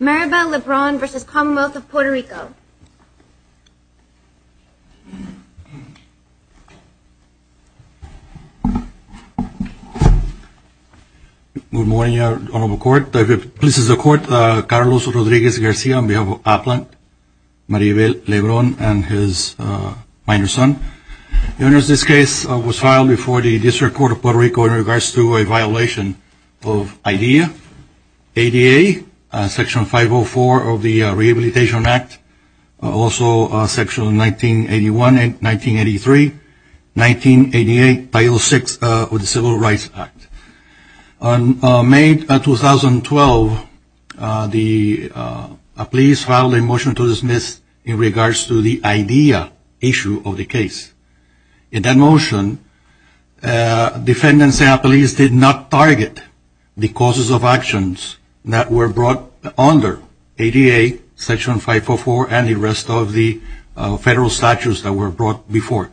Maribel Lebron v. Commonwealth of Puerto Rico. Good morning honorable court. This is the court Carlos Rodriguez Garcia on behalf of Applin, Maribel Lebron and his minor son. The owner of this case was filed before the District Court of Puerto Rico in ADA section 504 of the Rehabilitation Act, also section 1981 and 1983, 1988 title 6 of the Civil Rights Act. On May 2012 the police filed a motion to dismiss in regards to the IDEA issue of the case. In that motion defendants and the causes of actions that were brought under ADA section 504 and the rest of the federal statutes that were brought before.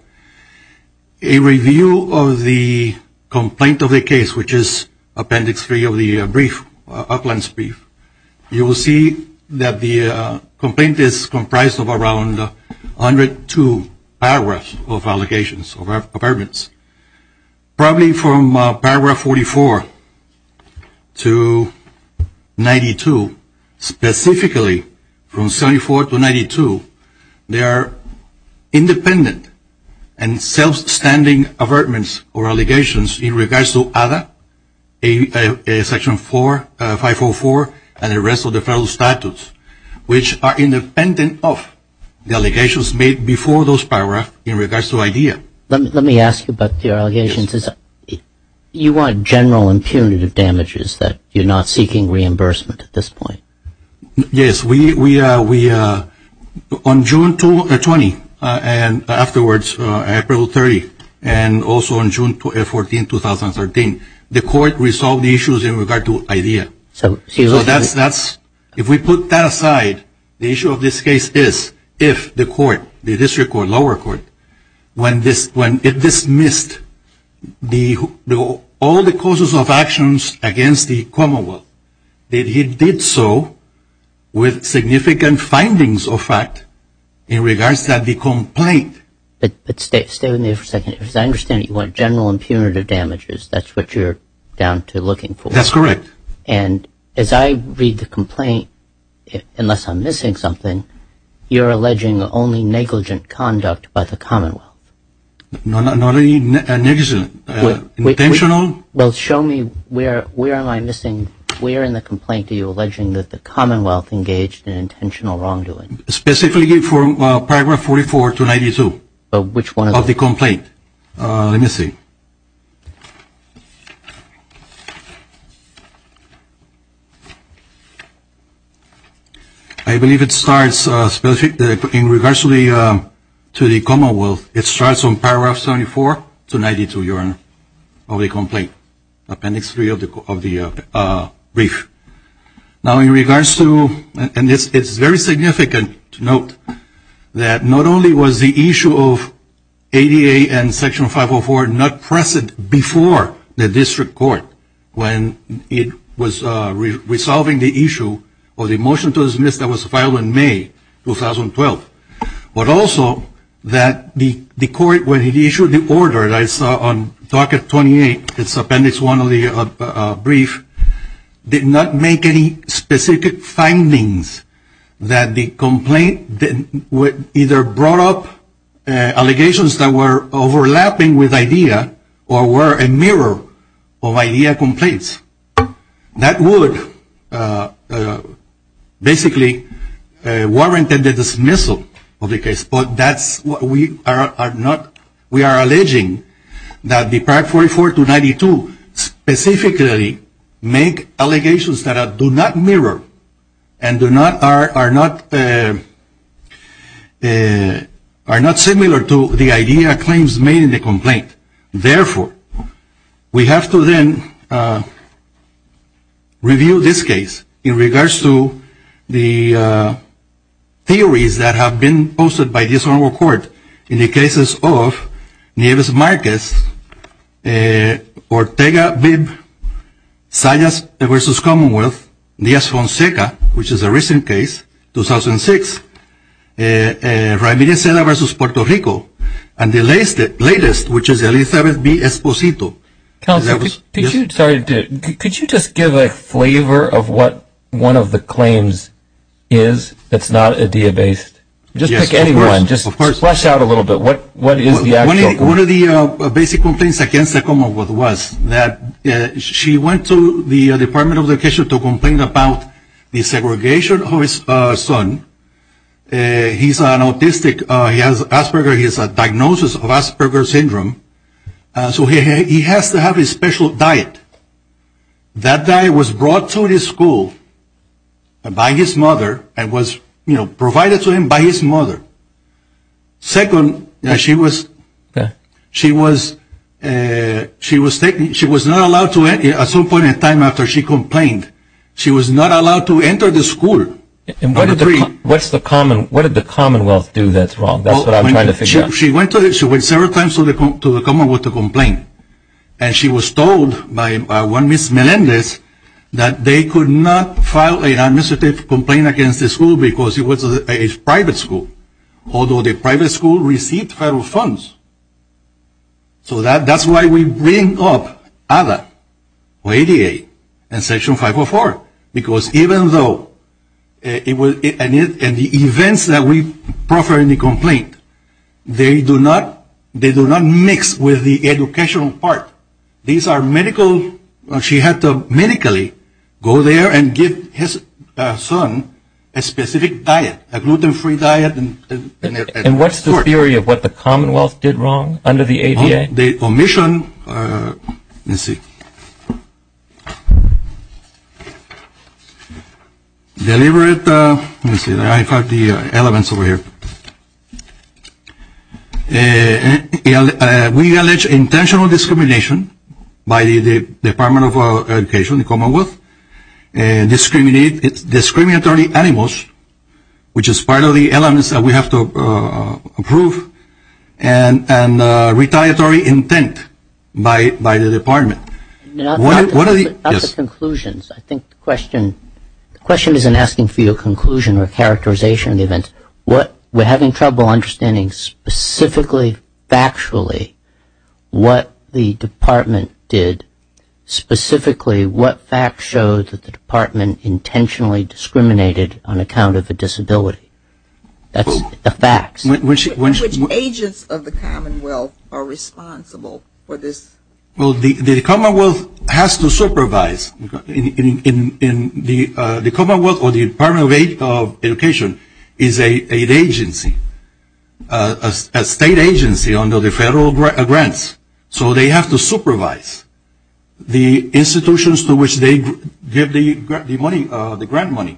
A review of the complaint of the case which is appendix 3 of the brief, Applin's brief, you will see that the complaint is comprised of around 102 paragraphs of allegations of paragraphs 44 to 92, specifically from 74 to 92. They are independent and self-standing avertments or allegations in regards to ADA section 504 and the rest of the federal statutes which are independent of the allegations made before those paragraphs in regards to IDEA. Let me ask about your general impunity of damages that you're not seeking reimbursement at this point. Yes, we on June 20 and afterwards April 30 and also on June 14, 2013, the court resolved the issues in regard to IDEA. So that's, if we put that aside, the issue of this case is if the court, the district court, lower court, when it dismissed all the causes of actions against the Commonwealth, that it did so with significant findings of fact in regards to the complaint. But stay with me for a second, because I understand you want general impunity of damages, that's what you're down to looking for. That's correct. And as I read the complaint, unless I'm missing something, you're alleging negligent conduct by the Commonwealth. Not any negligent. Intentional? Well, show me where am I missing, where in the complaint are you alleging that the Commonwealth engaged in intentional wrongdoing? Specifically from paragraph 44 to 92 of the complaint. Let me see. I believe it starts, in regards to the Commonwealth, it starts on paragraph 74 to 92 of the complaint, appendix 3 of the brief. Now in regards to, and it's very significant to note, that not only was the issue of section 504 not present before the district court when it was resolving the issue of the motion to dismiss that was filed in May 2012, but also that the court, when it issued the order that I saw on docket 28, it's appendix 1 of the brief, did not make any specific findings that the complaint either brought up allegations that were overlapping with idea or were a mirror of idea complaints. That would basically warrant the dismissal of the case, but that's what we are not, we are alleging that the paragraph 44 to 92 specifically make allegations that do not mirror and are not similar to the idea claims made in the complaint. Therefore, we have to then review this case in regards to the theories that have been posted by this court in the cases of Nieves-Marquez, Ortega-Bibb, Salles v. Commonwealth, Diaz-Fonseca, which is a recent case, 2006, Ramirez-Seda v. Puerto Rico, and the latest, which is Elizabeth B. Esposito. Counsel, could you just give a flavor of what one of the claims is that's not idea-based? Just pick any one, just flesh out a little bit. One of the basic complaints against the Commonwealth was that she went to the Department of Education to complain about the segregation of his son. He's an autistic, he has Asperger's, he has a diagnosis of Asperger's syndrome, so he has to have a special diet. That diet was brought to the school by his mother and was, you know, provided to him by his mother. Second, she was not allowed to, at some point in time after she complained, she was told by one Miss Melendez that they could not file an administrative complaint against the school because it was a private school, although the private school received federal funds. So that's why we bring up ADA or ADA in Section 504, because even though it was the events that we proffer in the complaint, they do not mix with the educational part. These are medical, she had to medically go there and give his son a specific diet, a gluten-free diet. And what's the theory of what the Commonwealth did wrong under the ADA? The omission, let's see. Deliberate, let me see, I have the elements over here. We allege intentional discrimination by the Department of Education, the Commonwealth, discriminatory animals, which is part of the elements that we have to identify intent by the department. Not the conclusions. I think the question isn't asking for your conclusion or characterization of the events. We're having trouble understanding specifically, factually, what the department did, specifically what facts showed that the department intentionally discriminated on account of a disability. That's the facts. Which agents of the Commonwealth are responsible for this? Well, the Commonwealth has to supervise. The Commonwealth or the Department of Education is an agency, a state agency under the federal grants. So they have to supervise the institutions to which they give the grant money.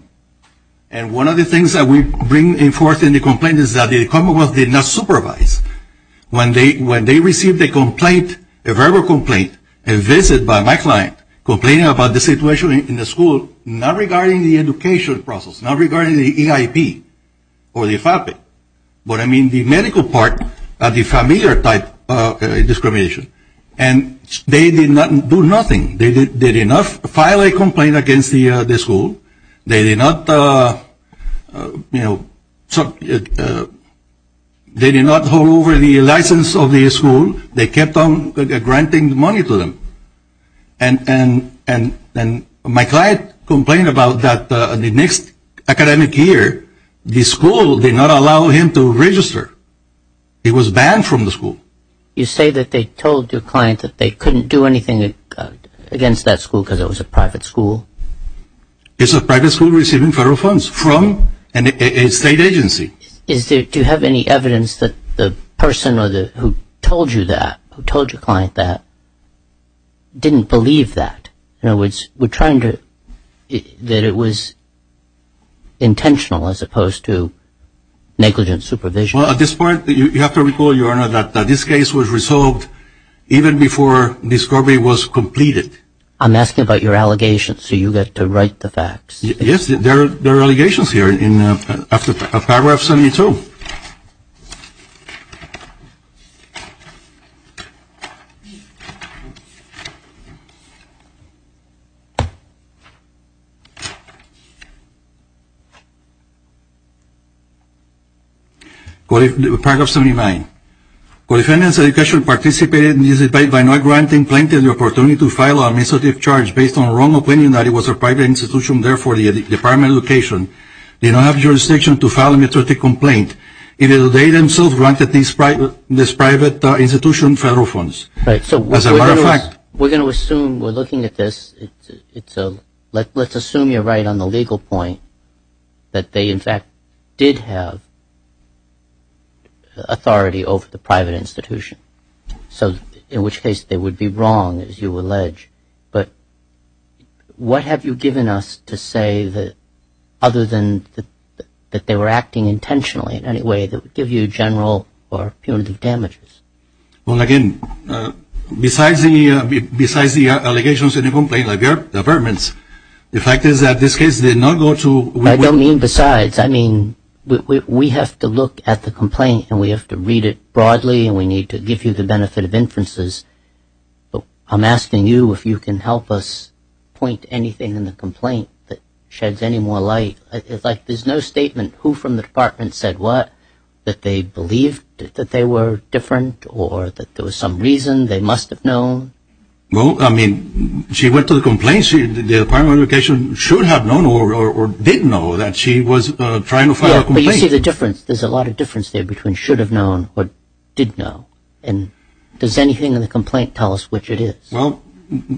And one of the things that we bring forth in the complaint is that the Commonwealth did not supervise. When they received a complaint, a verbal complaint, a visit by my client complaining about the situation in the school, not regarding the education process, not regarding the EIP or the faculty, but I mean the medical part of the familiar type of discrimination. And they did not do nothing. They did not file a complaint against the school. They did not, you know, they did not hold over the license of the school. They kept on granting money to them. And my client complained about that the next academic year the school did not allow him to register. He was banned from the school. You say that they told your client that they couldn't do anything against that school because it was a private school. It's a private school receiving federal funds from a state agency. Do you have any evidence that the person who told you that, who told your client that, didn't believe that? In other words, were trying to, that it was intentional as opposed to negligent supervision? Well, at this point, you have to recall, Your Honor, that this case was resolved even before discovery was completed. I'm asking about your allegations so you get to write the facts. Yes, there are allegations here in Paragraph 72. Paragraph 79. Co-defendants' education participated in this debate by not granting plaintiff the opportunity to file an administrative charge based on wrong opinion that it was a private institution, therefore the Department of Education did not have jurisdiction to file an administrative complaint. It is they themselves granted this private institution federal funds. As a matter of fact. We're going to assume, we're looking at this, let's assume you're right on the institution. So in which case they would be wrong, as you allege. But what have you given us to say that other than that they were acting intentionally in any way that would give you general or punitive damages? Well, again, besides the allegations in the complaint, like the averments, the fact is that this case did not go to. I don't mean besides. I mean, we have to look at the complaint and we have to read it broadly and we need to give you the benefit of inferences. But I'm asking you if you can help us point to anything in the complaint that sheds any more light. It's like there's no statement who from the department said what, that they believed that they were different or that there was some reason they must have known. Well, I mean, she went to the complaint, the Department of Education should have known or didn't know that she was trying to file a complaint. Yeah, but you see the difference. There's a lot of difference there between should have known or didn't know. And does anything in the complaint tell us which it is? Well,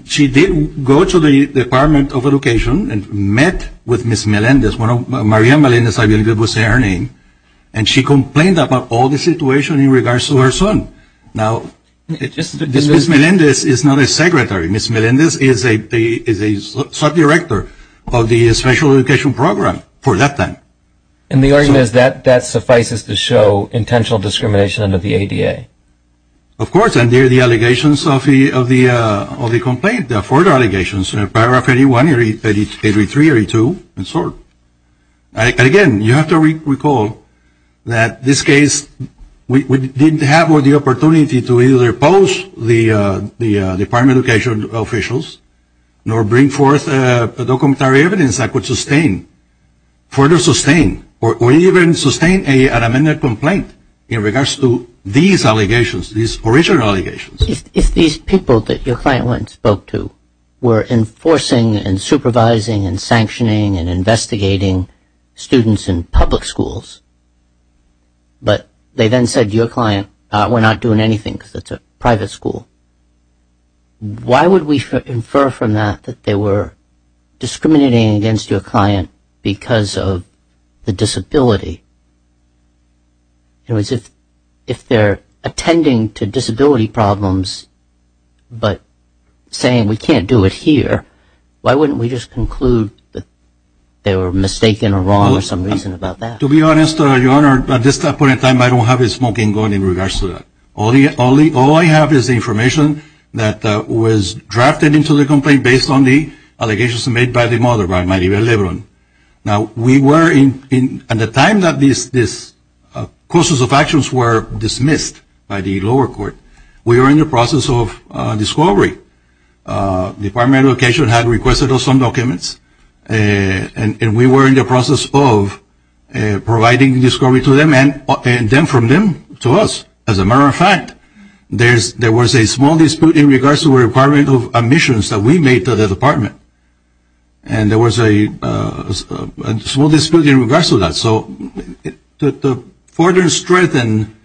she did go to the Department of Education and met with Ms. Melendez. Maria Melendez, I believe, was her name. And she complained about all the situation in regards to her son. Now, Ms. Melendez is not a secretary. Ms. Melendez is a sub-director of the special education program for that time. And the argument is that that suffices to show intentional discrimination under the ADA. Of course, and there are the allegations of the complaint, the four allegations, paragraph 81, 83, 82, and so on. And, again, you have to recall that this case we didn't have the opportunity to either post the Department of Education officials nor bring forth the documentary evidence that could sustain, further sustain, or even sustain an amended complaint in regards to these allegations, these original allegations. If these people that your client went and spoke to were enforcing and supervising and sanctioning and investigating students in public schools, but they then said to private school, why would we infer from that that they were discriminating against your client because of the disability? In other words, if they're attending to disability problems but saying we can't do it here, why wouldn't we just conclude that they were mistaken or wrong or some reason about that? To be honest, Your Honor, at this point in time, I don't have a smoking gun in regards to that. All I have is information that was drafted into the complaint based on the allegations made by the mother, by Maribel Lebron. Now, we were, at the time that this process of actions were dismissed by the lower court, we were in the process of discovery. The Department of Education had requested us some documents, and we were in the process of providing discovery to them and then from them to us. As a matter of fact, there was a small dispute in regards to the requirement of admissions that we made to the Department. And there was a small dispute in regards to that. So to further strengthen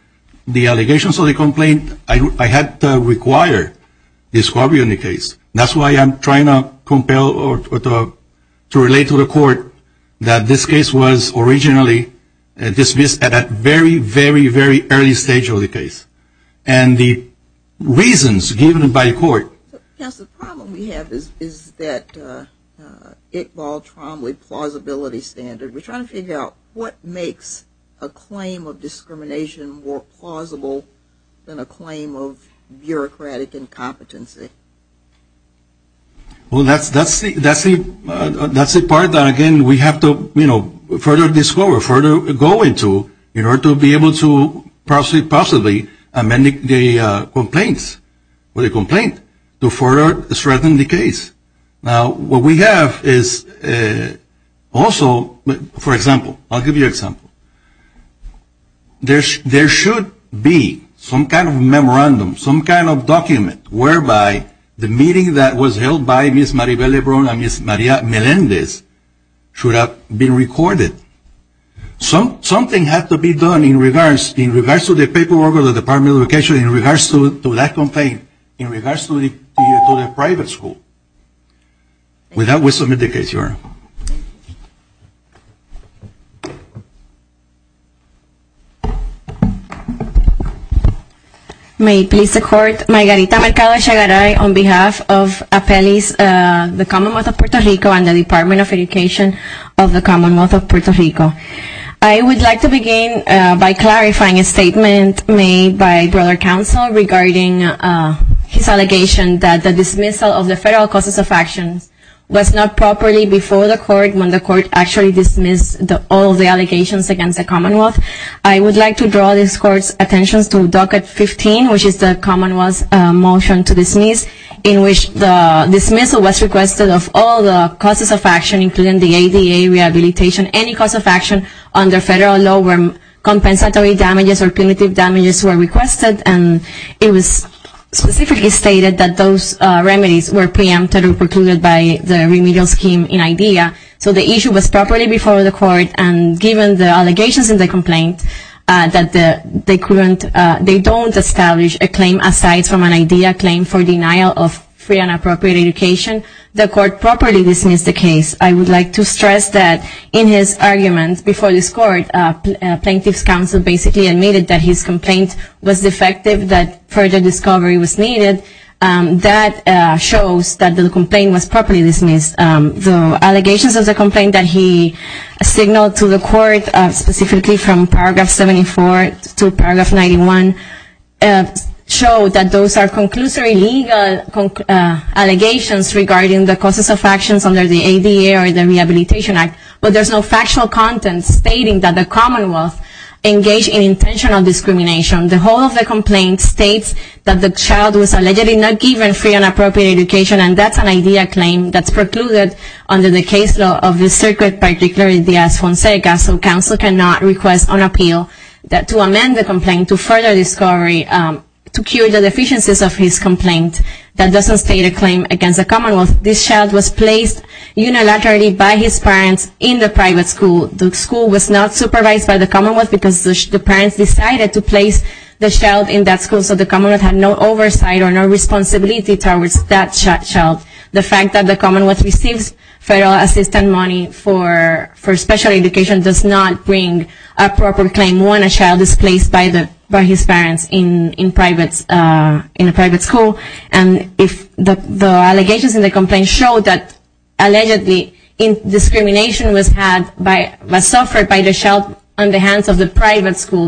the allegations of the complaint, I had to require discovery in the case. That's why I'm trying to compel or to relate to the court that this case was originally dismissed at a very, very, very early stage of the case. And the reasons given by the court. Yes, the problem we have is that Iqbal Tromley plausibility standard. We're trying to figure out what makes a claim of discrimination more plausible than a claim of bureaucratic incompetency. Well, that's the part that, again, we have to, you know, further discover, further go into in order to be able to possibly amend the complaints or the complaint to further strengthen the case. Now, what we have is also, for example, I'll give you an example. There should be some kind of memorandum, some kind of document whereby the meeting that was held by Ms. Maribel Lebron and Ms. Maria Melendez should have been recorded. Something had to be done in regards to the paperwork of the Department of Education in regards to that complaint, in regards to the private school. With that, we submit the case. May it please the court, Margarita Mercado-Chagaray on behalf of Apellis, the Commonwealth of Puerto Rico, and the Department of Education of the Commonwealth of Puerto Rico. I would like to begin by clarifying a statement made by broader counsel regarding his case. It states that the court's request of all causes of action was not properly before the court when the court actually dismissed all the allegations against the Commonwealth. I would like to draw this court's attention to Docket 15, which is the Commonwealth's motion to dismiss, in which the dismissal was requested of all the causes of action, including the ADA rehabilitation. Any cause of action under federal law where compensatory damages or punitive damages were requested, and it was specifically stated that those remedies were preempted or precluded by the remedial scheme in IDEA. So the issue was properly before the court, and given the allegations in the complaint that they don't establish a claim aside from an IDEA claim for denial of free and appropriate education, the court properly dismissed the case. I would like to stress that in his argument before this court, plaintiff's counsel basically admitted that his complaint was defective, that further discovery was needed. That shows that the complaint was properly dismissed. The allegations of the complaint that he signaled to the court, specifically from Paragraph 74 to Paragraph 91, showed that those are conclusory legal allegations regarding the causes of actions under the ADA or the Rehabilitation Act, but there's no factual content stating that the Commonwealth engaged in intentional discrimination. The whole of the complaint states that the child was allegedly not given free and appropriate education, and that's an IDEA claim that's precluded under the case law of the circuit by Declaration de la Esfonsega, so counsel cannot request an appeal to amend the complaint to further discovery, to cure the deficiencies of his complaint. That doesn't state a claim against the Commonwealth. This child was placed unilaterally by his parents in the private school. The school was not supervised by the Commonwealth because the parents decided to place the child in that school, so the Commonwealth had no oversight or no responsibility towards that child. The fact that the Commonwealth receives federal assistance money for special education does not bring a proper claim when a child is placed by his parents in a private school. The allegations in the complaint show that allegedly discrimination was suffered by the child on the hands of the private school.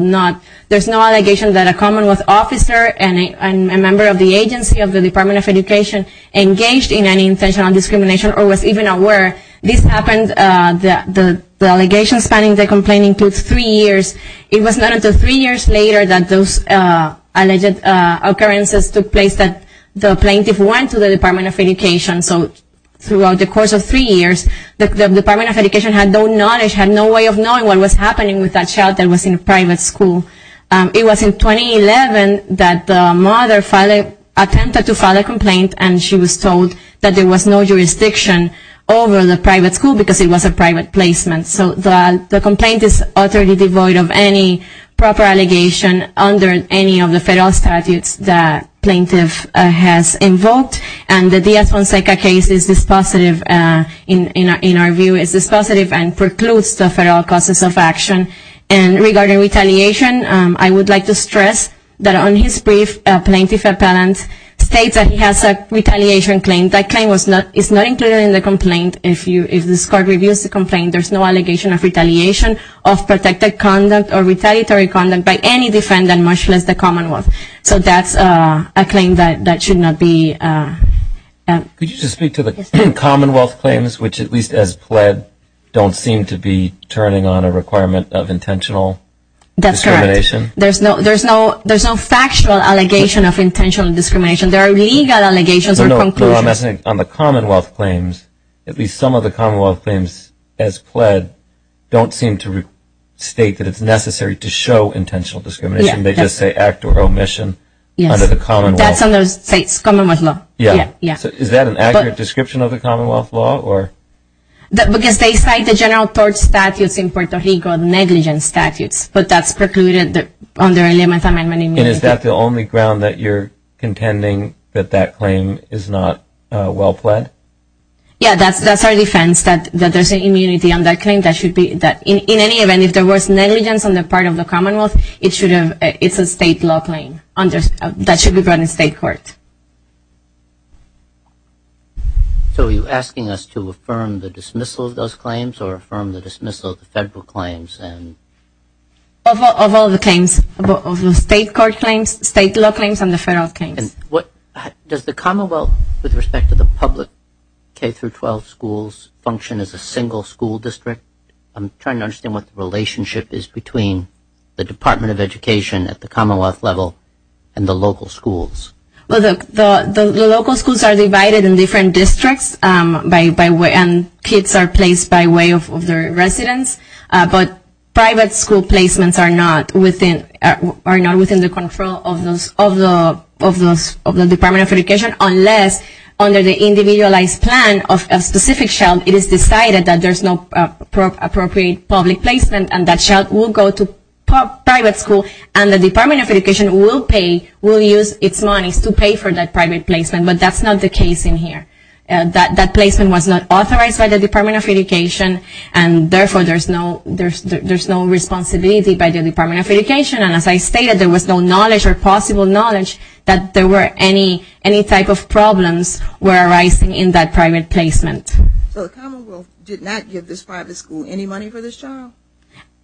There's no allegation that a Commonwealth officer and a member of the agency of the Department of Education engaged in any intentional discrimination or was even aware. This happened, the allegations found in the complaint include three years. It was not until three years later that those alleged occurrences took place that the plaintiff went to the Department of Education. So throughout the course of three years, the Department of Education had no knowledge, had no way of knowing what was happening with that child that was in a private school. It was in 2011 that the mother attempted to file a complaint and she was told that there was no jurisdiction over the private school because it was a private placement. So the complaint is utterly devoid of any proper allegation under any of the federal statutes that plaintiff has invoked. And the Diaz-Fonseca case is dispositive in our view, is dispositive and precludes the federal causes of action. And regarding retaliation, I would like to stress that on his brief, plaintiff appellant states that he has a retaliation claim. That claim is not included in the complaint. If this court reviews the complaint, there's no allegation of retaliation of protected conduct or retaliatory conduct by any defendant, much less the Commonwealth. So that's a claim that should not be. Could you just speak to the Commonwealth claims, which at least as pled, don't seem to be turning on a requirement of intentional discrimination? That's correct. There's no factual allegation of intentional discrimination. There are legal allegations or conclusions. On the Commonwealth claims, at least some of the Commonwealth claims as pled don't seem to state that it's necessary to show intentional discrimination. They just say act or omission under the Commonwealth. That's in those states, Commonwealth law. Yeah. Is that an accurate description of the Commonwealth law? Because they cite the general tort statutes in Puerto Rico, negligence statutes. But that's precluded under Elements Amendment. And is that the only ground that you're contending that that claim is not well pled? Yeah. That's our defense, that there's an immunity on that claim. In any event, if there was negligence on the part of the Commonwealth, it's a state law claim that should be brought in state court. So are you asking us to affirm the dismissal of those claims or affirm the dismissal of the federal claims? Of all the claims, of the state court claims, state law claims, and the federal claims. Does the Commonwealth, with respect to the public K-12 schools, function as a single school district? I'm trying to understand what the relationship is between the Department of Education at the Commonwealth level and the local schools. Well, the local schools are divided in different districts, and kids are placed by way of their residence. But private school placements are not within the control of the Department of Education, unless under the individualized plan of a specific child, it is decided that there's no appropriate public placement, and that child will go to private school, and the Department of Education will pay, will use its monies to pay for that private placement. But that's not the case in here. That placement was not authorized by the Department of Education, and therefore there's no responsibility by the Department of Education, and as I stated, there was no knowledge or possible knowledge that there were any type of problems were arising in that private placement. So the Commonwealth did not give this private school any money for this child?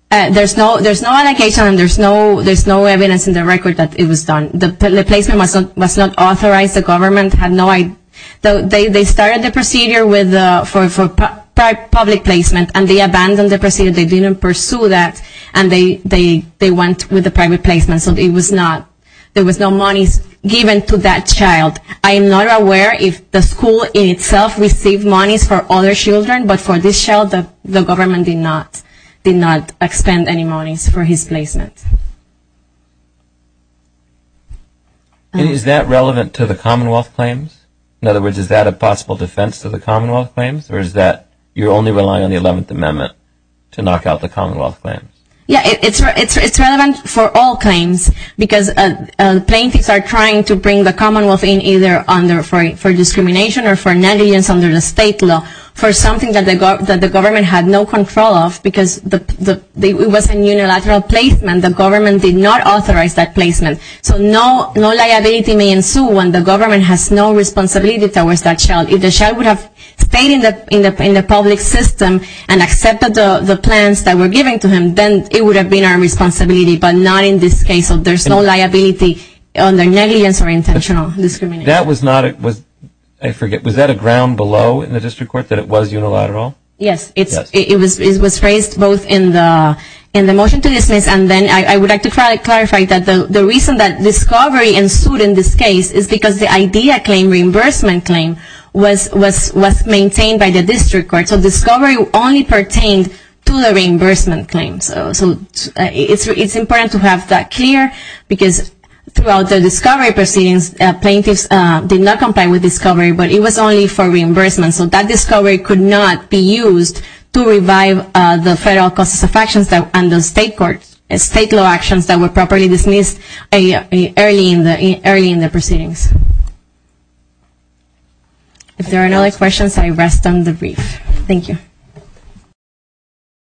There's no allocation, and there's no evidence in the record that it was done. The placement was not authorized. The government had no idea. They started the procedure for public placement, and they abandoned the procedure. They didn't pursue that, and they went with the private placement. So there was no monies given to that child. I am not aware if the school in itself received monies for other children, but for this child, the government did not expend any monies for his placement. Is that relevant to the Commonwealth claims? In other words, is that a possible defense to the Commonwealth claims, or is that you're only relying on the 11th Amendment to knock out the Commonwealth claims? Yeah, it's relevant for all claims because plaintiffs are trying to bring the Commonwealth in either for discrimination or for negligence under the state law for something that the government had no control of because it was a unilateral placement. The government did not authorize that placement. So no liability may ensue when the government has no responsibility towards that child. If the child would have stayed in the public system and accepted the plans that were given to him, then it would have been our responsibility, but not in this case. So there's no liability under negligence or intentional discrimination. Was that a ground below in the district court that it was unilateral? Yes, and then I would like to clarify that the reason that discovery ensued in this case is because the IDEA claim, reimbursement claim, was maintained by the district court. So discovery only pertained to the reimbursement claims. So it's important to have that clear because throughout the discovery proceedings, plaintiffs did not comply with discovery, but it was only for reimbursement. So that discovery could not be used to revive the federal causes of actions and the state law actions that were properly dismissed early in the proceedings. If there are no other questions, I rest on the brief. Thank you.